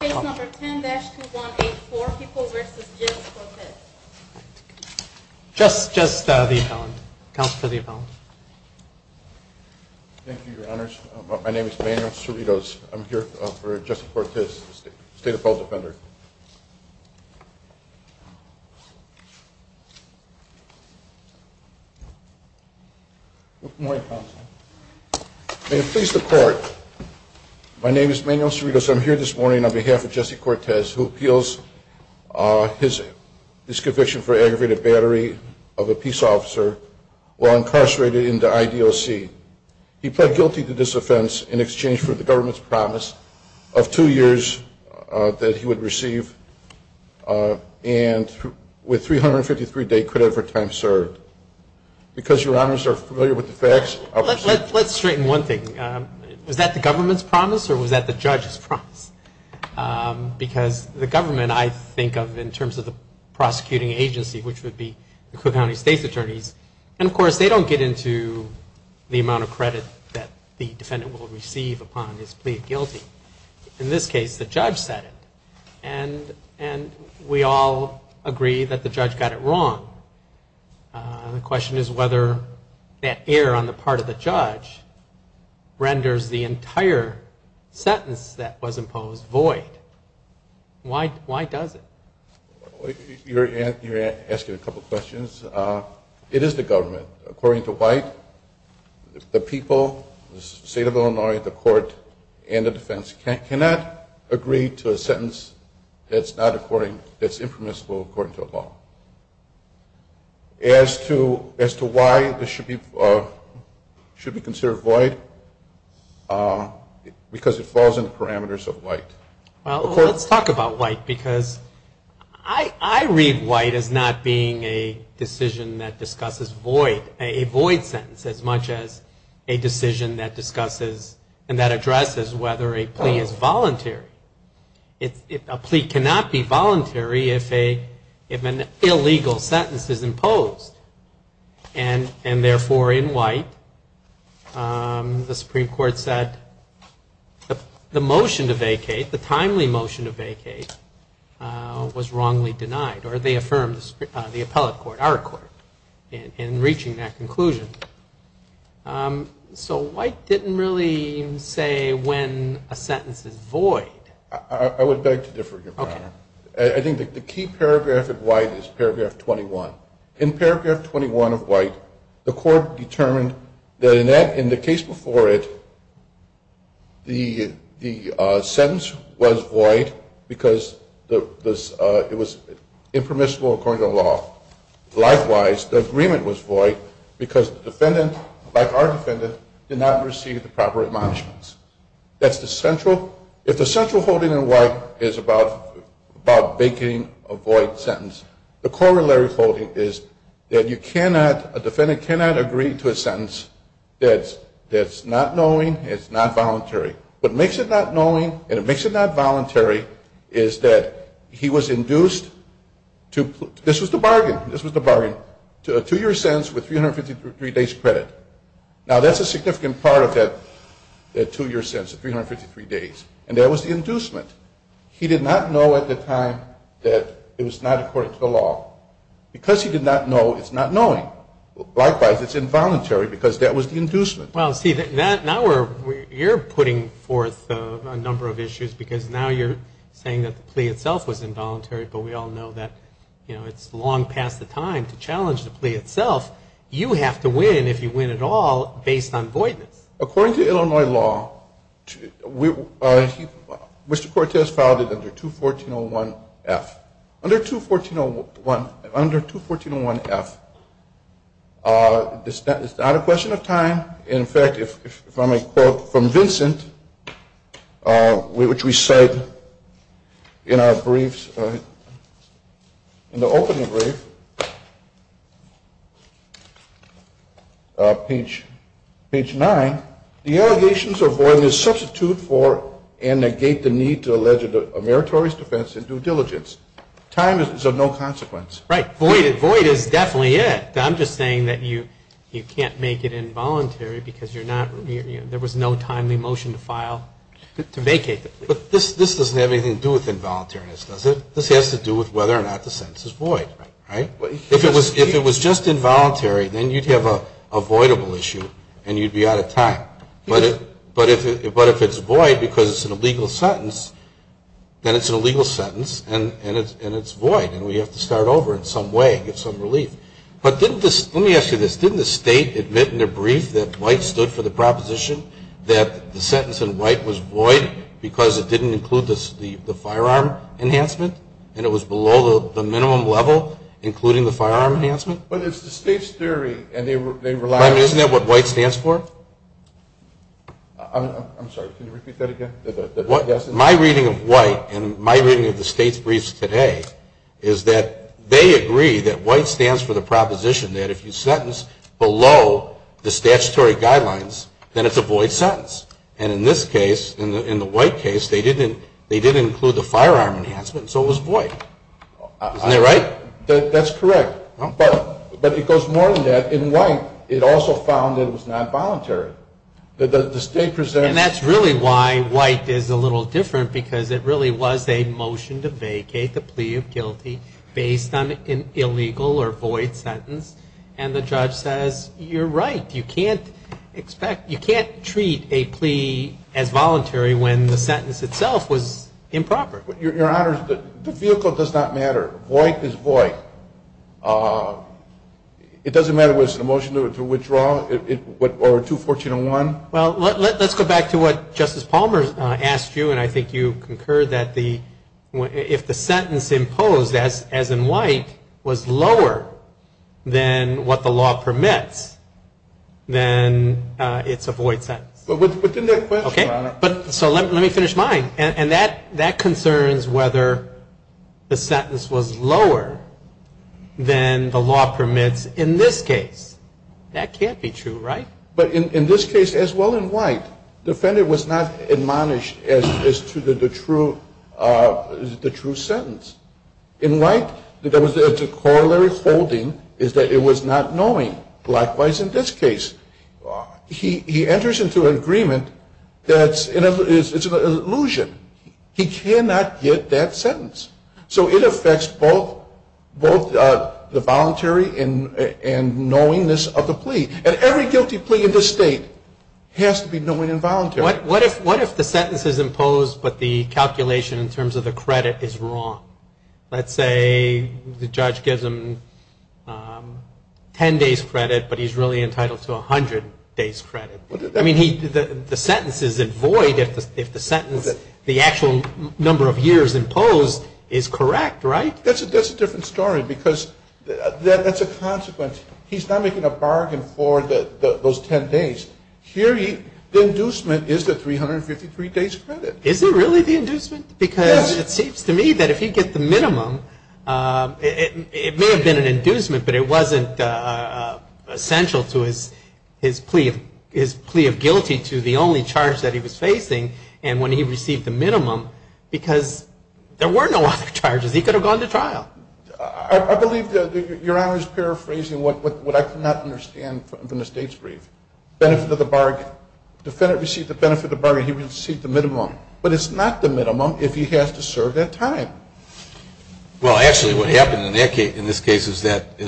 Case No. 10-2184, Peoples v. Gibbs v. Cortez Just the appellant. Counselor for the appellant. Thank you, Your Honors. My name is Manuel Cerritos. I'm here for Justice Cortez, State Appellate Defender. Good morning, Counselor. May it please the Court, my name is Manuel Cerritos. I'm here this morning on behalf of Justice Cortez, who appeals his disconviction for aggravated battery of a peace officer while incarcerated in the IDOC. He pled guilty to this offense in exchange for the government's promise of two years that he would receive, and with 353 days credit for time served. Because Your Honors are familiar with the facts. Let's straighten one thing. Was that the government's promise or was that the judge's promise? Because the government, I think of in terms of the prosecuting agency, which would be the Cook County State's attorneys, and of course they don't get into the amount of credit that the defendant will receive upon his plea of guilty. In this case, the judge said it, and we all agree that the judge got it wrong. The question is whether that error on the part of the judge renders the entire sentence that was imposed void. Why does it? You're asking a couple questions. It is the government. According to White, the people, the State of Illinois, the Court, and the defense cannot agree to a sentence that's impermissible according to a law. As to why this should be considered void, because it falls in the parameters of White. Well, let's talk about White, because I read White as not being a decision that discusses void, a void sentence, as much as a decision that discusses and that addresses whether a plea is voluntary. A plea cannot be voluntary if an illegal sentence is imposed, and therefore in White, the Supreme Court said the motion to vacate, the timely motion to vacate, was wrongly denied, or they affirmed, the appellate court, our court, in reaching that conclusion. So White didn't really say when a sentence is void. I would beg to differ, Your Honor. I think the key paragraph of White is paragraph 21. In paragraph 21 of White, the court determined that in the case before it, the sentence was void because it was impermissible according to the law. Likewise, the agreement was void because the defendant, like our defendant, did not receive the proper admonishments. If the central holding in White is about vacating a void sentence, the corollary holding is that you cannot, a defendant cannot agree to a sentence that's not knowing, it's not voluntary. What makes it not knowing and it makes it not voluntary is that he was induced to, this was the bargain, this was the bargain, to a two-year sentence with 353 days credit. Now, that's a significant part of that two-year sentence, 353 days, and that was the inducement. He did not know at the time that it was not according to the law. Because he did not know, it's not knowing. Likewise, it's involuntary because that was the inducement. Well, see, now we're, you're putting forth a number of issues because now you're saying that the plea itself was involuntary, but we all know that, you know, it's long past the time to challenge the plea itself. You have to win, if you win at all, based on voidness. According to Illinois law, Mr. Cortez filed it under 214.01F. Under 214.01F, it's not a question of time. In fact, if I may quote from Vincent, which we cite in our briefs, in the opening brief, page 9, the allegations of voidness substitute for and negate the need to allege a meritorious defense in due diligence. Time is of no consequence. Right. Void is definitely it. I'm just saying that you can't make it involuntary because you're not, you know, there was no timely motion to file to vacate the plea. But this doesn't have anything to do with involuntariness, does it? This has to do with whether or not the sentence is void, right? If it was just involuntary, then you'd have a voidable issue and you'd be out of time. But if it's void because it's an illegal sentence, then it's an illegal sentence and it's void, and we have to start over in some way and get some relief. But let me ask you this. Didn't the State admit in a brief that White stood for the proposition that the sentence in White was void because it didn't include the firearm enhancement and it was below the minimum level including the firearm enhancement? But it's the State's theory and they relied on it. Isn't that what White stands for? I'm sorry. Can you repeat that again? My reading of White and my reading of the State's briefs today is that they agree that White stands for the proposition that if you sentence below the statutory guidelines, then it's a void sentence. And in this case, in the White case, they didn't include the firearm enhancement, so it was void. Isn't that right? That's correct. But it goes more than that. In White, it also found it was not voluntary. The State presented... And that's really why White is a little different because it really was a motion to vacate the plea of guilty based on an illegal or void sentence. And the judge says, you're right. You can't treat a plea as voluntary when the sentence itself was improper. Your Honor, the vehicle does not matter. Void is void. It doesn't matter whether it's a motion to withdraw or to 1401? Well, let's go back to what Justice Palmer asked you, and I think you concurred that if the sentence imposed as in White was lower than what the law permits, then it's a void sentence. But didn't that question, Your Honor... So let me finish mine. And that concerns whether the sentence was lower than the law permits in this case. That can't be true, right? But in this case, as well in White, the offender was not admonished as to the true sentence. In White, there was a corollary holding is that it was not knowing. Likewise in this case. He enters into an agreement that's an illusion. He cannot get that sentence. So it affects both the voluntary and knowingness of the plea. And every guilty plea in this State has to be knowing and voluntary. What if the sentence is imposed, but the calculation in terms of the credit is wrong? Let's say the judge gives him 10 days credit, but he's really entitled to 100 days credit. I mean, the sentence is in void if the sentence, the actual number of years imposed is correct, right? That's a different story because that's a consequence. He's not making a bargain for those 10 days. Here the inducement is the 353 days credit. Is it really the inducement? Yes. Because it seems to me that if he gets the minimum, it may have been an inducement, but it wasn't essential to his plea of guilty to the only charge that he was facing. And when he received the minimum, because there were no other charges, he could have gone to trial. I believe Your Honor is paraphrasing what I could not understand from the State's brief. Benefit of the bargain. Defendant received the benefit of the bargain. He received the minimum. But it's not the minimum if he has to serve that time. Well, actually what happened in this case is that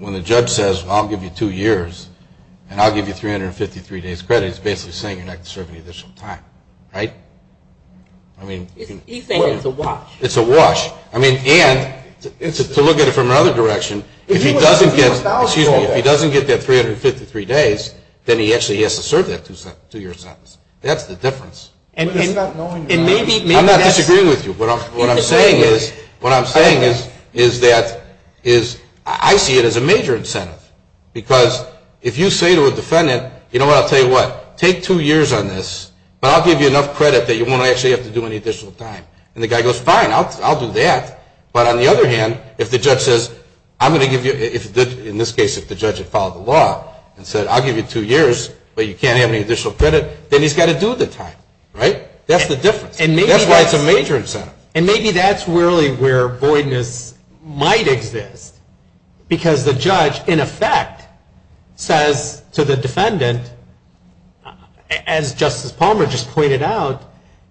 when the judge says, I'll give you two years and I'll give you 353 days credit, he's basically saying you're not going to serve any additional time, right? He's saying it's a wash. It's a wash. I mean, and to look at it from another direction, if he doesn't get that 353 days, then he actually has to serve that two-year sentence. That's the difference. I'm not disagreeing with you. What I'm saying is that I see it as a major incentive because if you say to a defendant, you know what, I'll tell you what, take two years on this, but I'll give you enough credit that you won't actually have to do any additional time. And the guy goes, fine, I'll do that. But on the other hand, if the judge says, I'm going to give you, in this case, if the judge had followed the law and said, I'll give you two years, but you can't have any additional credit, then he's got to do the time, right? That's the difference. That's why it's a major incentive. And maybe that's really where voidness might exist because the judge, in effect, says to the defendant, as Justice Palmer just pointed out,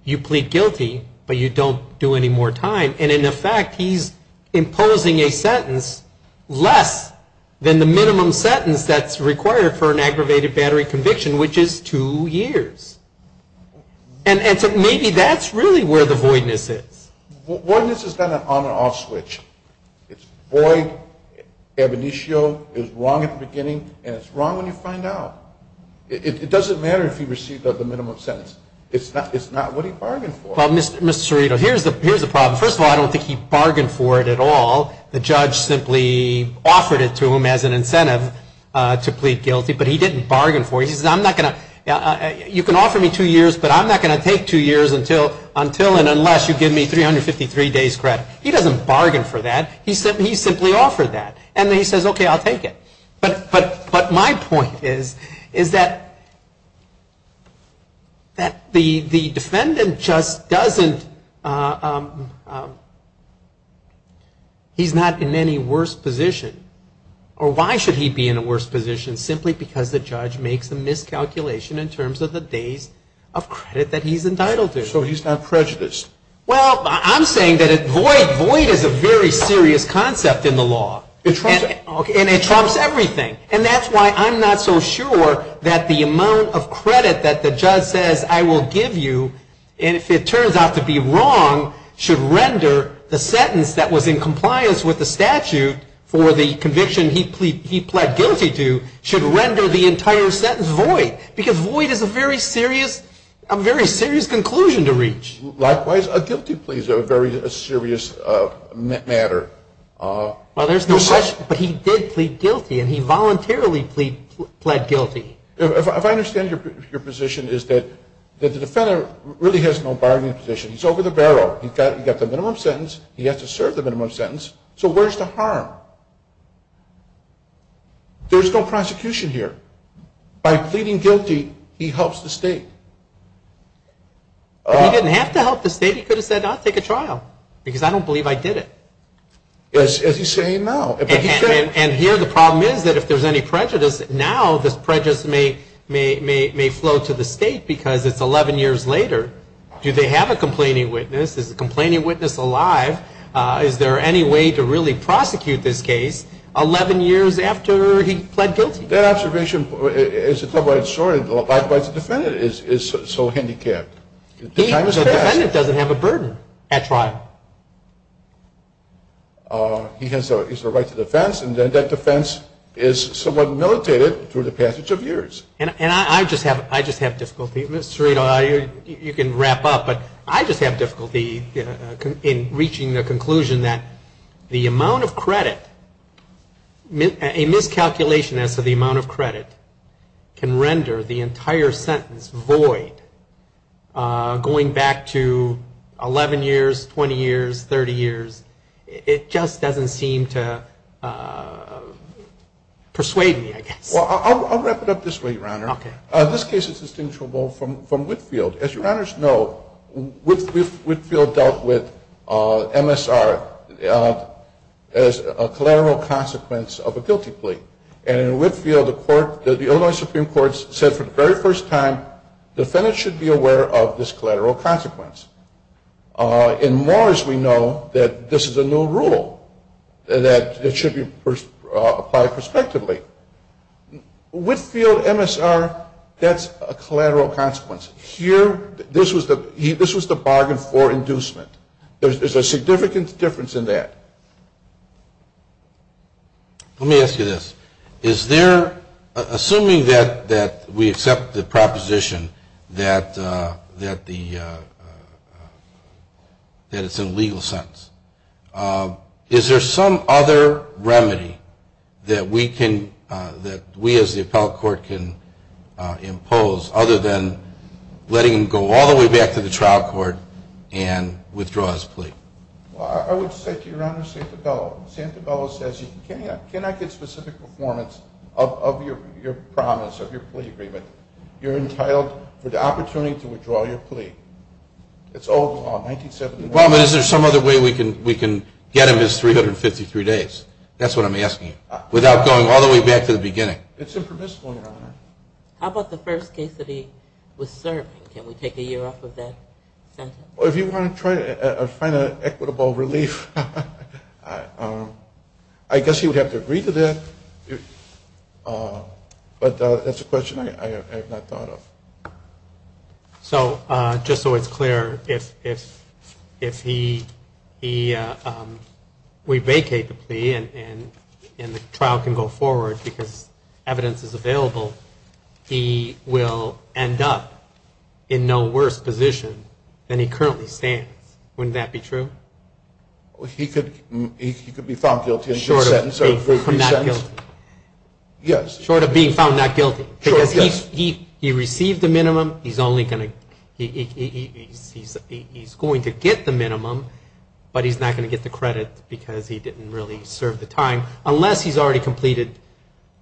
you plead guilty, but you don't do any more time. And, in effect, he's imposing a sentence less than the minimum sentence that's required for an aggravated battery conviction, which is two years. And so maybe that's really where the voidness is. Voidness is not an on and off switch. It's void, ab initio, it's wrong at the beginning, and it's wrong when you find out. It doesn't matter if he received the minimum sentence. It's not what he bargained for. Well, Mr. Cerrito, here's the problem. First of all, I don't think he bargained for it at all. The judge simply offered it to him as an incentive to plead guilty, but he didn't bargain for it. He says, I'm not going to you can offer me two years, but I'm not going to take two years until and unless you give me 353 days credit. He doesn't bargain for that. He simply offered that. And then he says, okay, I'll take it. But my point is that the defendant just doesn't, he's not in any worse position. Or why should he be in a worse position? Simply because the judge makes a miscalculation in terms of the days of credit that he's entitled to. So he's not prejudiced. Well, I'm saying that void is a very serious concept in the law. And it trumps everything. And that's why I'm not so sure that the amount of credit that the judge says I will give you, and if it turns out to be wrong, should render the sentence that was in compliance with the statute for the conviction he pled guilty to, should render the entire sentence void. Because void is a very serious conclusion to reach. Likewise, a guilty plea is a very serious matter. Well, there's no question. But he did plead guilty. And he voluntarily pled guilty. If I understand your position is that the defendant really has no bargaining position. He's over the barrel. He's got the minimum sentence. He has to serve the minimum sentence. So where's the harm? There's no prosecution here. By pleading guilty, he helps the state. If he didn't have to help the state, he could have said, I'll take a trial. Because I don't believe I did it. As he's saying now. And here the problem is that if there's any prejudice, now this prejudice may flow to the state because it's 11 years later. Do they have a complaining witness? Is the complaining witness alive? Is there any way to really prosecute this case 11 years after he pled guilty? That observation, as a double-edged sword, likewise the defendant is so handicapped. The time has passed. The defendant doesn't have a burden at trial. He has the right to defense. And then that defense is somewhat militated through the passage of years. And I just have difficulty. Mr. Serino, you can wrap up. But I just have difficulty in reaching the conclusion that the amount of credit, a miscalculation as to the amount of credit can render the entire sentence void going back to 11 years, 20 years, 30 years. It just doesn't seem to persuade me, I guess. Well, I'll wrap it up this way, Your Honor. Okay. This case is distinguishable from Whitfield. As Your Honors know, Whitfield dealt with MSR as a collateral consequence of a guilty plea. And in Whitfield, the Illinois Supreme Court said for the very first time, defendants should be aware of this collateral consequence. In Morris, we know that this is a new rule that should be applied prospectively. Whitfield MSR, that's a collateral consequence. Here, this was the bargain for inducement. There's a significant difference in that. Let me ask you this. Assuming that we accept the proposition that it's an illegal sentence, is there some other remedy that we as the appellate court can impose, other than letting him go all the way back to the trial court and withdraw his plea? Well, I would say to Your Honor, Santa Bella says, can I get specific performance of your promise, of your plea agreement? You're entitled for the opportunity to withdraw your plea. It's old law, 1971. Well, but is there some other way we can get him his 353 days? That's what I'm asking you, without going all the way back to the beginning. It's impermissible, Your Honor. How about the first case that he was serving? Can we take a year off of that sentence? Well, if you want to try to find an equitable relief, I guess you would have to agree to that. But that's a question I have not thought of. So just so it's clear, if we vacate the plea and the trial can go forward because evidence is available, he will end up in no worse position than he currently stands. Wouldn't that be true? He could be found guilty in this sentence. Short of being found not guilty. Yes. Short of being found not guilty. Because he received the minimum. He's going to get the minimum, but he's not going to get the credit because he didn't really serve the time, unless he's already completed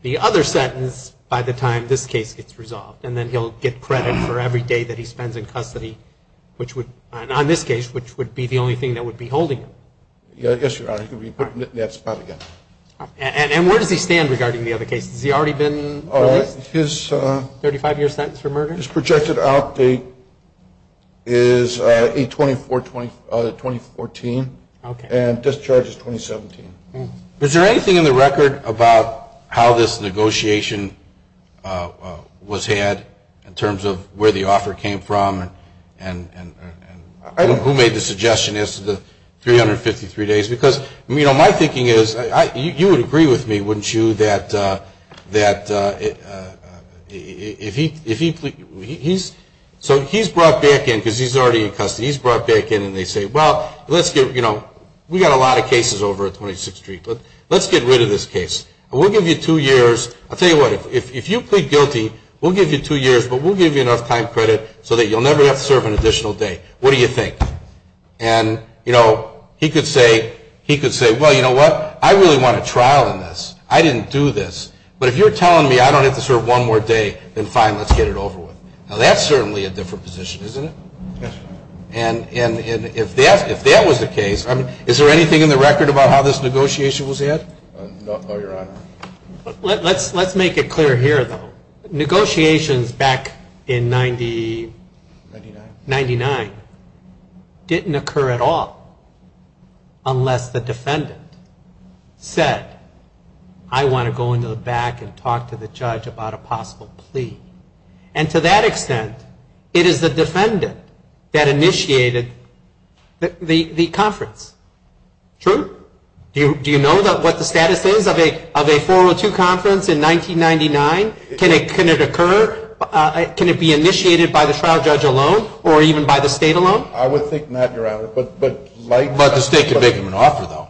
the other sentence by the time this case gets resolved, and then he'll get credit for every day that he spends in custody, which would, on this case, which would be the only thing that would be holding him. Yes, Your Honor. He could be put in that spot again. And where does he stand regarding the other cases? Has he already been released? His 35-year sentence for murder? His projected outdate is 8-24-2014 and discharge is 2017. Is there anything in the record about how this negotiation was had in terms of where the offer came from and who made the suggestion as to the 353 days? Because, you know, my thinking is you would agree with me, wouldn't you, that if he's brought back in, because he's already in custody, he's brought back in and they say, well, let's get, you know, we've got a lot of cases over at 26th Street, but let's get rid of this case. We'll give you two years. I'll tell you what, if you plead guilty, we'll give you two years, but we'll give you enough time credit so that you'll never have to serve an additional day. What do you think? And, you know, he could say, well, you know what, I really want a trial in this. I didn't do this. But if you're telling me I don't have to serve one more day, then fine, let's get it over with. Now, that's certainly a different position, isn't it? Yes. And if that was the case, is there anything in the record about how this negotiation was had? No, Your Honor. Let's make it clear here, though. Negotiations back in 1999 didn't occur at all unless the defendant said, I want to go into the back and talk to the judge about a possible plea. And to that extent, it is the defendant that initiated the conference. True? Do you know what the status is of a 402 conference in 1999? Can it occur? Can it be initiated by the trial judge alone or even by the state alone? I would think not, Your Honor. But the state could make them an offer, though.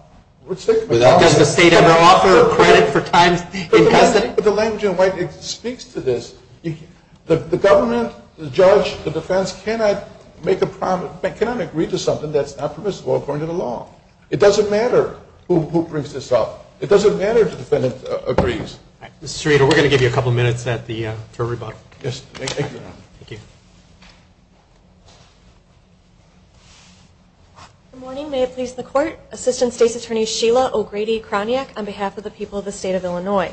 Does the state ever offer credit for times it hasn't? But the language in white speaks to this. The government, the judge, the defense cannot make a promise, cannot agree to something that's not permissible according to the law. It doesn't matter who brings this up. It doesn't matter if the defendant agrees. Ms. Serino, we're going to give you a couple minutes for rebuttal. Yes, thank you, Your Honor. Thank you. Good morning. May it please the Court, Assistant State's Attorney Sheila O'Grady-Kroniak on behalf of the people of the State of Illinois.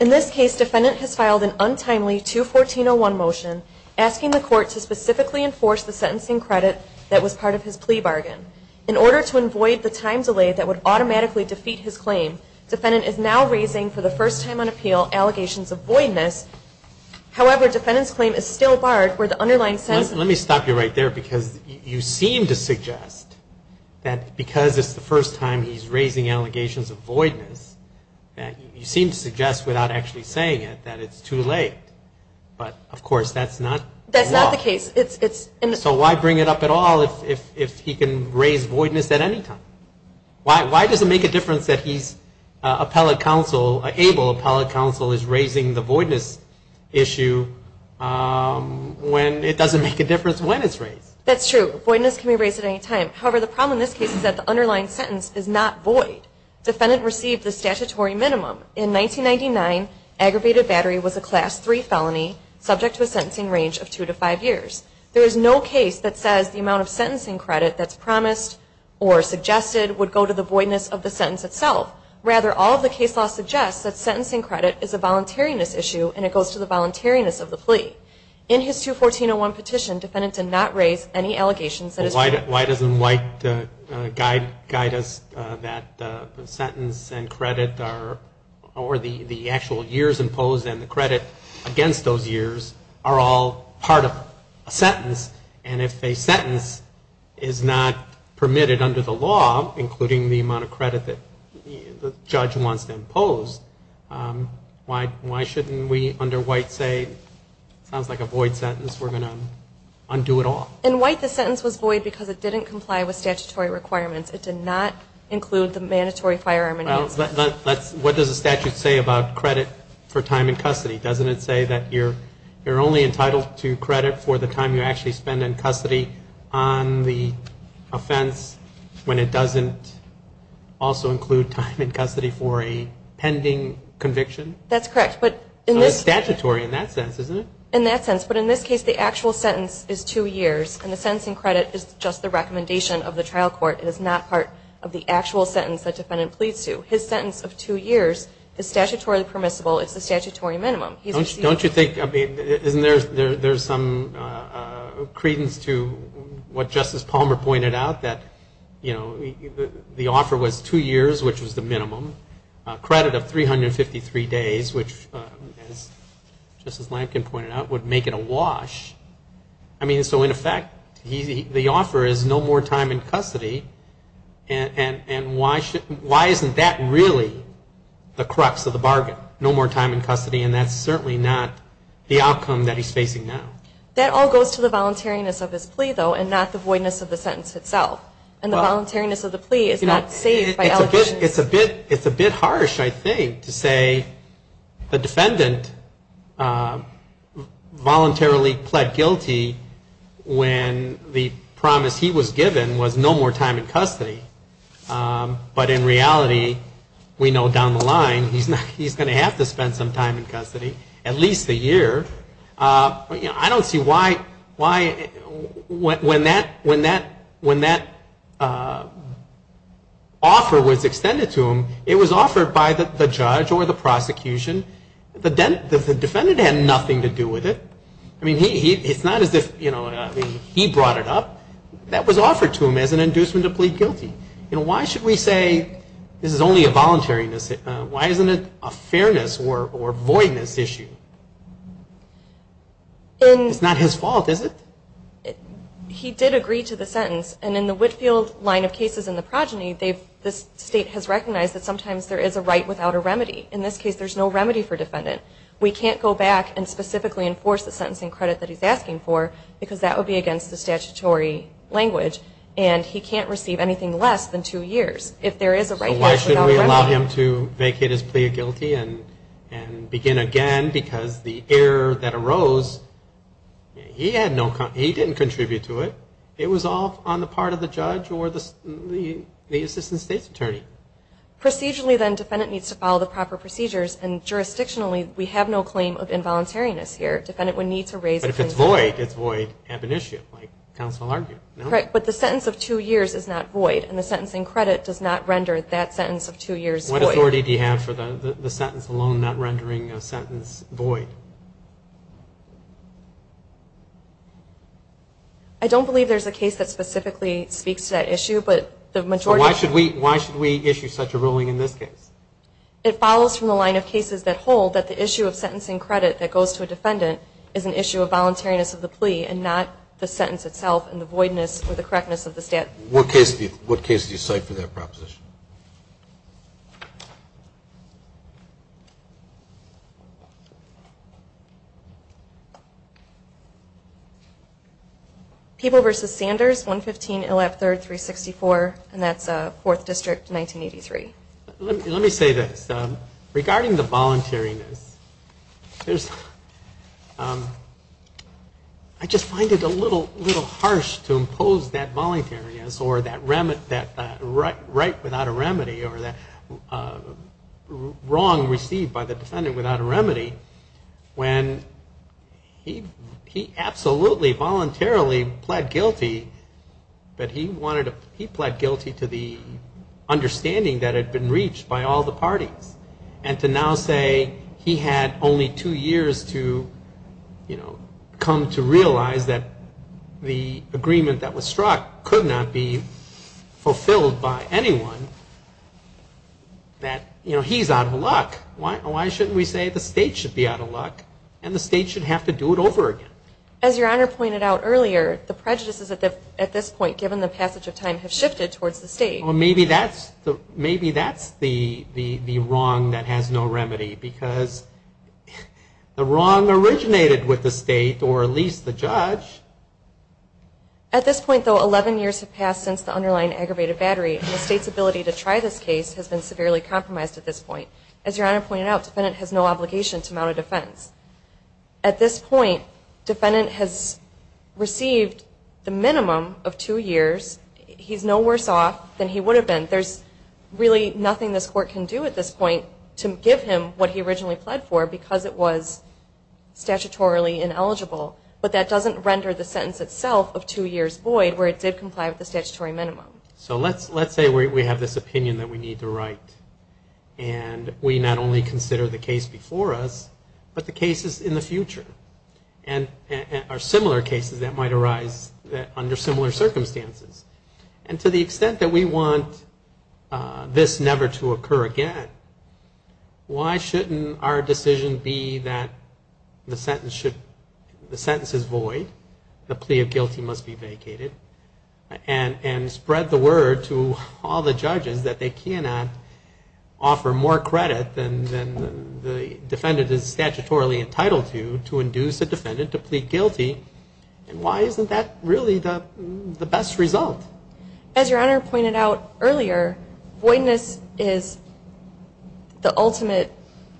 In this case, defendant has filed an untimely 214-01 motion asking the Court to specifically enforce the sentencing credit that was part of his plea bargain. In order to avoid the time delay that would automatically defeat his claim, defendant is now raising for the first time on appeal allegations of voidness. However, defendant's claim is still barred where the underlying sentence Let me stop you right there because you seem to suggest that because it's the first time he's raising allegations of voidness, you seem to suggest without actually saying it that it's too late. But, of course, that's not the case. That's not the case. So why bring it up at all if he can raise voidness at any time? Why does it make a difference that he's appellate counsel, able appellate counsel is raising the voidness issue when it doesn't make a difference when it's raised? That's true. Voidness can be raised at any time. However, the problem in this case is that the underlying sentence is not void. Defendant received the statutory minimum. In 1999, aggravated battery was a Class III felony subject to a sentencing range of two to five years. There is no case that says the amount of sentencing credit that's promised or suggested would go to the voidness of the sentence itself. Rather, all of the case law suggests that sentencing credit is a voluntariness issue and it goes to the voluntariness of the plea. In his 214-01 petition, defendant did not raise any allegations that is true. Why doesn't White guide us that the sentence and credit are or the actual years imposed and the credit against those years are all part of a sentence? And if a sentence is not permitted under the law, including the amount of credit that the judge wants to impose, why shouldn't we under White say, sounds like a void sentence, we're going to undo it all? In White, the sentence was void because it didn't comply with statutory requirements. It did not include the mandatory firearm. What does the statute say about credit for time in custody? Doesn't it say that you're only entitled to credit for the time you actually spend in custody on the offense when it doesn't also include time in custody for a pending conviction? That's correct. Statutory in that sense, isn't it? In that sense. But in this case, the actual sentence is two years, and the sentencing credit is just the recommendation of the trial court. It is not part of the actual sentence that defendant pleads to. His sentence of two years is statutorily permissible. It's the statutory minimum. Don't you think there's some credence to what Justice Palmer pointed out, that the offer was two years, which was the minimum, credit of 353 days, which, as Justice Lankin pointed out, would make it a wash. So, in effect, the offer is no more time in custody, and why isn't that really the crux of the bargain, no more time in custody? And that's certainly not the outcome that he's facing now. That all goes to the voluntariness of his plea, though, and not the voidness of the sentence itself. And the voluntariness of the plea is not saved by allegations. It's a bit harsh, I think, to say the defendant voluntarily pled guilty when the promise he was given was no more time in custody. But, in reality, we know down the line he's going to have to spend some time in custody, at least a year. I don't see why, when that offer was extended to him, it was offered by the judge or the prosecution. The defendant had nothing to do with it. I mean, it's not as if he brought it up. That was offered to him as an inducement to plead guilty. Why should we say this is only a voluntariness? Why isn't it a fairness or voidness issue? It's not his fault, is it? He did agree to the sentence, and in the Whitfield line of cases in the progeny, this state has recognized that sometimes there is a right without a remedy. In this case, there's no remedy for defendant. We can't go back and specifically enforce the sentencing credit that he's asking for because that would be against the statutory language, and he can't receive anything less than two years if there is a right without remedy. So why should we allow him to vacate his plea of guilty and begin again because the error that arose, he didn't contribute to it. It was all on the part of the judge or the assistant state's attorney. Procedurally, then, defendant needs to follow the proper procedures, and jurisdictionally, we have no claim of involuntariness here. Defendant would need to raise a complaint. But if it's void, it's void ab initio, like counsel argued, no? Correct, but the sentence of two years is not void, and the sentencing credit does not render that sentence of two years void. What authority do you have for the sentence alone not rendering a sentence void? I don't believe there's a case that specifically speaks to that issue, but the majority. Why should we issue such a ruling in this case? It follows from the line of cases that hold that the issue of sentencing credit that goes to a defendant is an issue of voluntariness of the plea and not the sentence itself and the voidness or the correctness of the statute. What case do you cite for that proposition? People v. Sanders, 115 Illap 3rd, 364, and that's 4th District, 1983. Let me say this. Regarding the voluntariness, I just find it a little harsh to impose that voluntariness or that right without a remedy or that wrong received by the defendant without a remedy when he absolutely voluntarily pled guilty, but he pled guilty to the understanding that had been reached by all the parties and to now say he had only two years to come to realize that the agreement that was struck could not be fulfilled by anyone, that he's out of luck. Why shouldn't we say the state should be out of luck and the state should have to do it over again? As Your Honor pointed out earlier, the prejudices at this point, given the passage of time, have shifted towards the state. Well, maybe that's the wrong that has no remedy because the wrong originated with the state or at least the judge. At this point, though, 11 years have passed since the underlying aggravated battery and the state's ability to try this case has been severely compromised at this point. As Your Honor pointed out, defendant has no obligation to mount a defense. At this point, defendant has received the minimum of two years. He's no worse off than he would have been. There's really nothing this court can do at this point to give him what he originally pled for because it was statutorily ineligible. But that doesn't render the sentence itself of two years void where it did comply with the statutory minimum. So let's say we have this opinion that we need to write and we not only consider the case before us but the cases in the future and are similar cases that might arise under similar circumstances. And to the extent that we want this never to occur again, why shouldn't our decision be that the sentence is void, the plea of guilty must be vacated, and spread the word to all the judges that they cannot offer more credit than the defendant is statutorily entitled to to induce the defendant to plead guilty? And why isn't that really the best result? As Your Honor pointed out earlier, voidness is the ultimate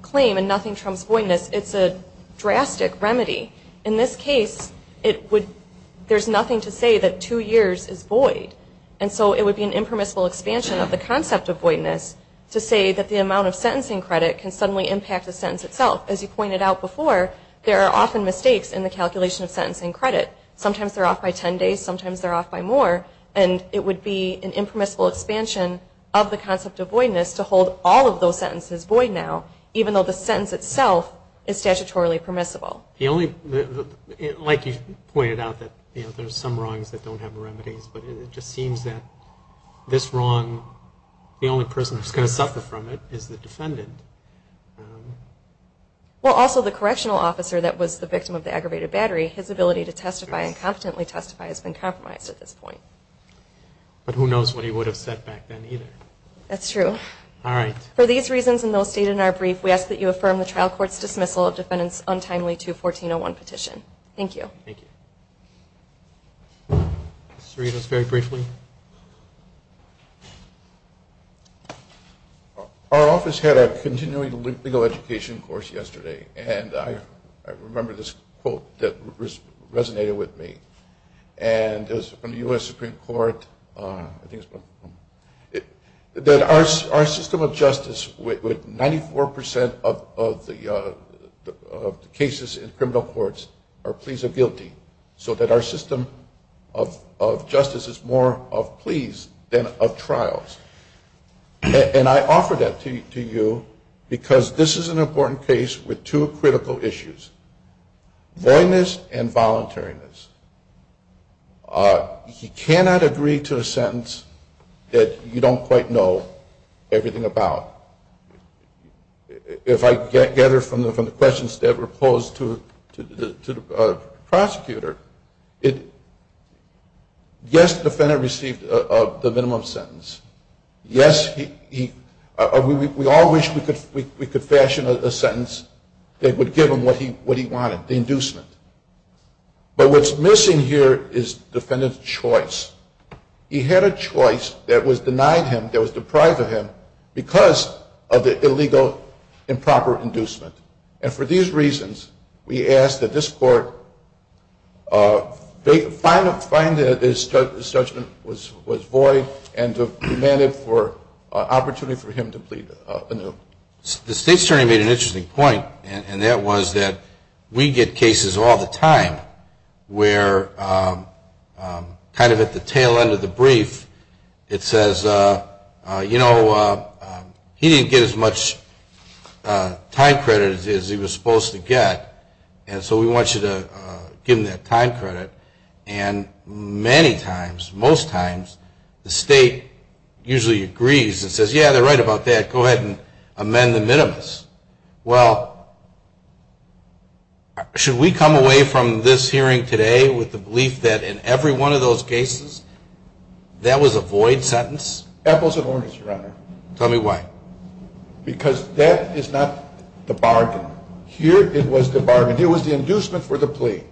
claim and nothing trumps voidness. It's a drastic remedy. In this case, there's nothing to say that two years is void. And so it would be an impermissible expansion of the concept of voidness to say that the amount of sentencing credit can suddenly impact the sentence itself. As you pointed out before, there are often mistakes in the calculation of sentencing credit. Sometimes they're off by 10 days, sometimes they're off by more, and it would be an impermissible expansion of the concept of voidness to hold all of those sentences void now, even though the sentence itself is statutorily permissible. Like you pointed out, there are some wrongs that don't have remedies, but it just seems that this wrong, the only person who's going to suffer from it is the defendant. Well, also the correctional officer that was the victim of the aggravated battery, his ability to testify and competently testify has been compromised at this point. But who knows what he would have said back then either. That's true. All right. For these reasons and those stated in our brief, we ask that you affirm the trial court's dismissal of defendant's untimely 214-01 petition. Thank you. Thank you. Ms. Serino, very briefly. Our office had a continuing legal education course yesterday, and I remember this quote that resonated with me. And it was from the U.S. Supreme Court. Our system of justice with 94% of the cases in criminal courts are pleas of guilty, so that our system of justice is more of pleas than of trials. And I offer that to you because this is an important case with two critical issues, voidness and voluntariness. He cannot agree to a sentence that you don't quite know everything about. If I gather from the questions that were posed to the prosecutor, yes, the defendant received the minimum sentence. Yes, we all wish we could fashion a sentence that would give him what he wanted, the inducement. But what's missing here is defendant's choice. He had a choice that was denied him, that was deprived of him, because of the illegal improper inducement. And for these reasons, we ask that this court find that his judgment was void and demand it for an opportunity for him to plead anew. The State's attorney made an interesting point, and that was that we get cases all the time where kind of at the tail end of the brief, it says, you know, he didn't get as much time credit as he was supposed to get, and so we want you to give him that time credit. And many times, most times, the State usually agrees and says, yeah, they're right about that, go ahead and amend the minimus. Well, should we come away from this hearing today with the belief that in every one of those cases, that was a void sentence? Apples and oranges, Your Honor. Tell me why. Because that is not the bargain. Here it was the bargain. It was the inducement for the plea.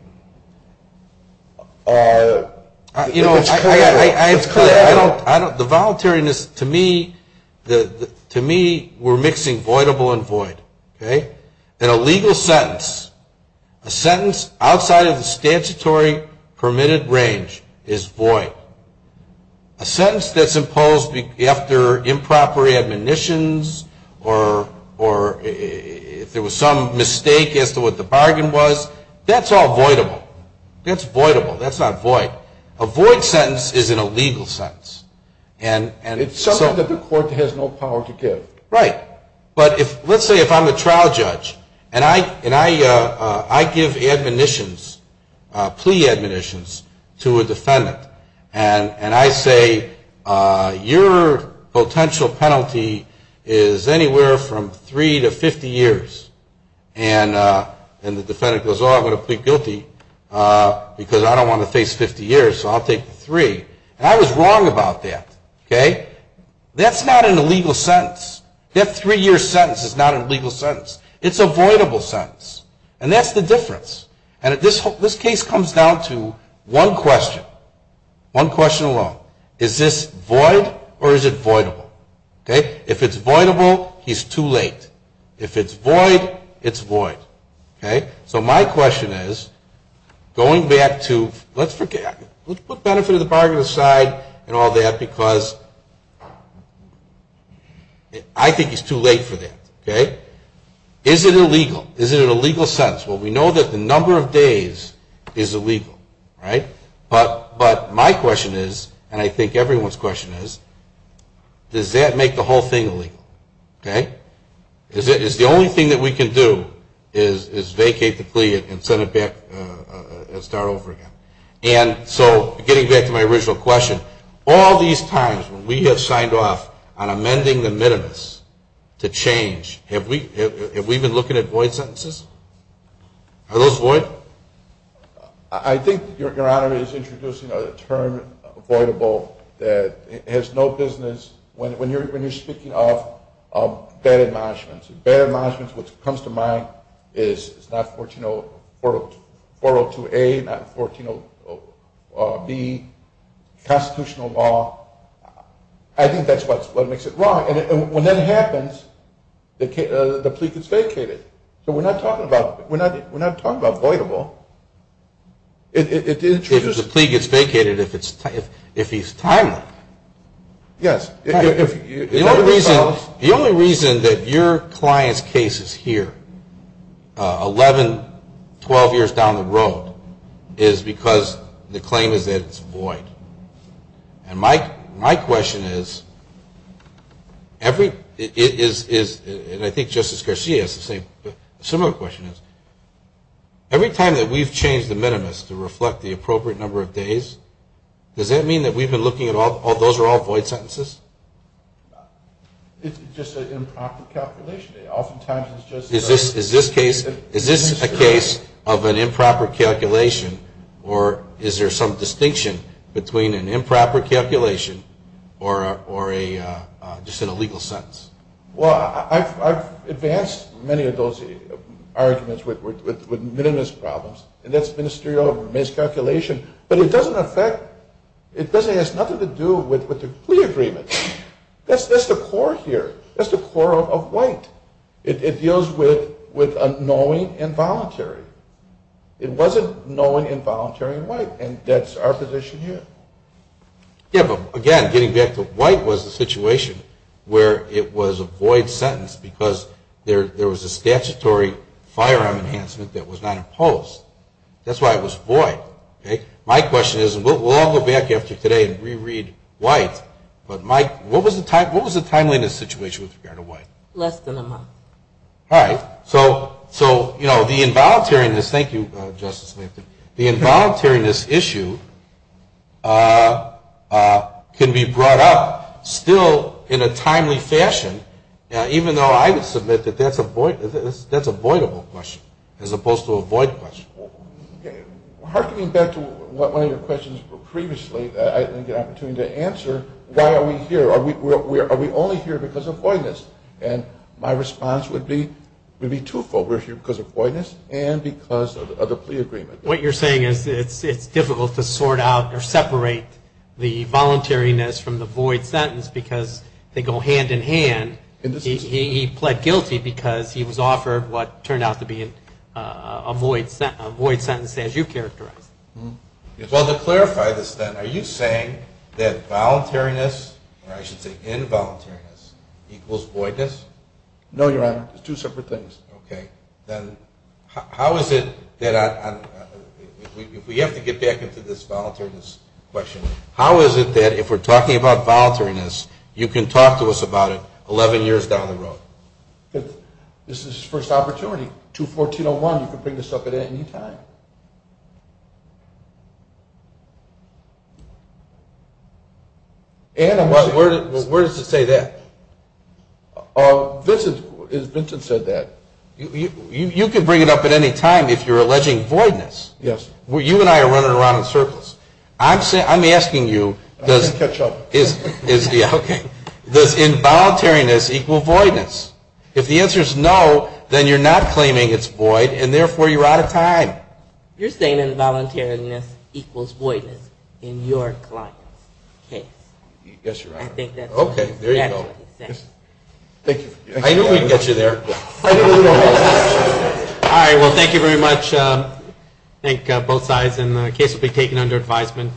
You know, the voluntariness, to me, we're mixing voidable and void. In a legal sentence, a sentence outside of the statutory permitted range is void. A sentence that's imposed after improper admonitions or if there was some mistake as to what the bargain was, that's all voidable. That's voidable. That's not void. A void sentence is an illegal sentence. It's something that the court has no power to give. Right. But let's say if I'm a trial judge and I give admonitions, plea admonitions, to a defendant, and I say your potential penalty is anywhere from three to 50 years, and the defendant goes, oh, I'm going to plead guilty because I don't want to face 50 years, so I'll take the three. And I was wrong about that. Okay? That's not an illegal sentence. That three-year sentence is not an illegal sentence. It's a voidable sentence. And that's the difference. And this case comes down to one question, one question alone. Is this void or is it voidable? Okay? If it's voidable, he's too late. If it's void, it's void. Okay? So my question is going back to let's forget it. Let's put benefit of the bargain aside and all that because I think he's too late for that. Okay? Is it illegal? Is it an illegal sentence? Well, we know that the number of days is illegal. Right? But my question is, and I think everyone's question is, does that make the whole thing illegal? Okay? Is the only thing that we can do is vacate the plea and send it back and start over again? And so getting back to my original question, all these times when we have signed off on amending the minimus to change, have we been looking at void sentences? Are those void? I think Your Honor is introducing a term, voidable, that has no business, when you're speaking of bad admonishments. Bad admonishments, what comes to mind is not 402A, not 140B, constitutional law. I think that's what makes it wrong. And when that happens, the plea gets vacated. So we're not talking about voidable. If the plea gets vacated, if he's timely. Yes. The only reason that your client's case is here, 11, 12 years down the road, is because the claim is that it's void. And my question is, and I think Justice Garcia has a similar question, every time that we've changed the minimus to reflect the appropriate number of days, does that mean that we've been looking at all those are all void sentences? It's just an improper calculation. Oftentimes it's just a ministerial. Is this a case of an improper calculation, or is there some distinction between an improper calculation or just an illegal sentence? Well, I've advanced many of those arguments with minimus problems, and that's ministerial miscalculation. But it doesn't affect, it has nothing to do with the plea agreement. That's the core here. That's the core of white. It deals with knowing involuntary. It wasn't knowing involuntary in white, and that's our position here. Again, getting back to white was the situation where it was a void sentence because there was a statutory firearm enhancement that was not imposed. That's why it was void. My question is, and we'll all go back after today and re-read white, but Mike, what was the timeliness situation with regard to white? Less than a month. All right. So, you know, the involuntariness, thank you, Justice Lansing, the involuntariness issue can be brought up still in a timely fashion, even though I would submit that that's a voidable question as opposed to a void question. Harkening back to one of your questions previously, I didn't get an opportunity to answer why are we here. Are we only here because of voidness? And my response would be twofold. We're here because of voidness and because of the plea agreement. What you're saying is it's difficult to sort out or separate the voluntariness from the void sentence because they go hand in hand. He pled guilty because he was offered what turned out to be a void sentence, as you characterized it. Well, to clarify this then, are you saying that voluntariness, or I should say involuntariness, equals voidness? No, Your Honor. It's two separate things. Okay. Then how is it that if we have to get back into this voluntariness question, how is it that if we're talking about voluntariness, you can talk to us about it 11 years down the road? This is his first opportunity. 214.01, you can bring this up at any time. Where does it say that? Vincent said that. You can bring it up at any time if you're alleging voidness. You and I are running around in circles. I'm asking you does involuntariness equal voidness? If the answer is no, then you're not claiming it's void, and therefore you're out of time. You're saying involuntariness equals voidness in your client's case. Yes, Your Honor. I think that's what he's saying. Okay, there you go. Thank you. I knew we'd get you there. All right, well, thank you very much. And I thank both sides. And the case will be taken under advisement.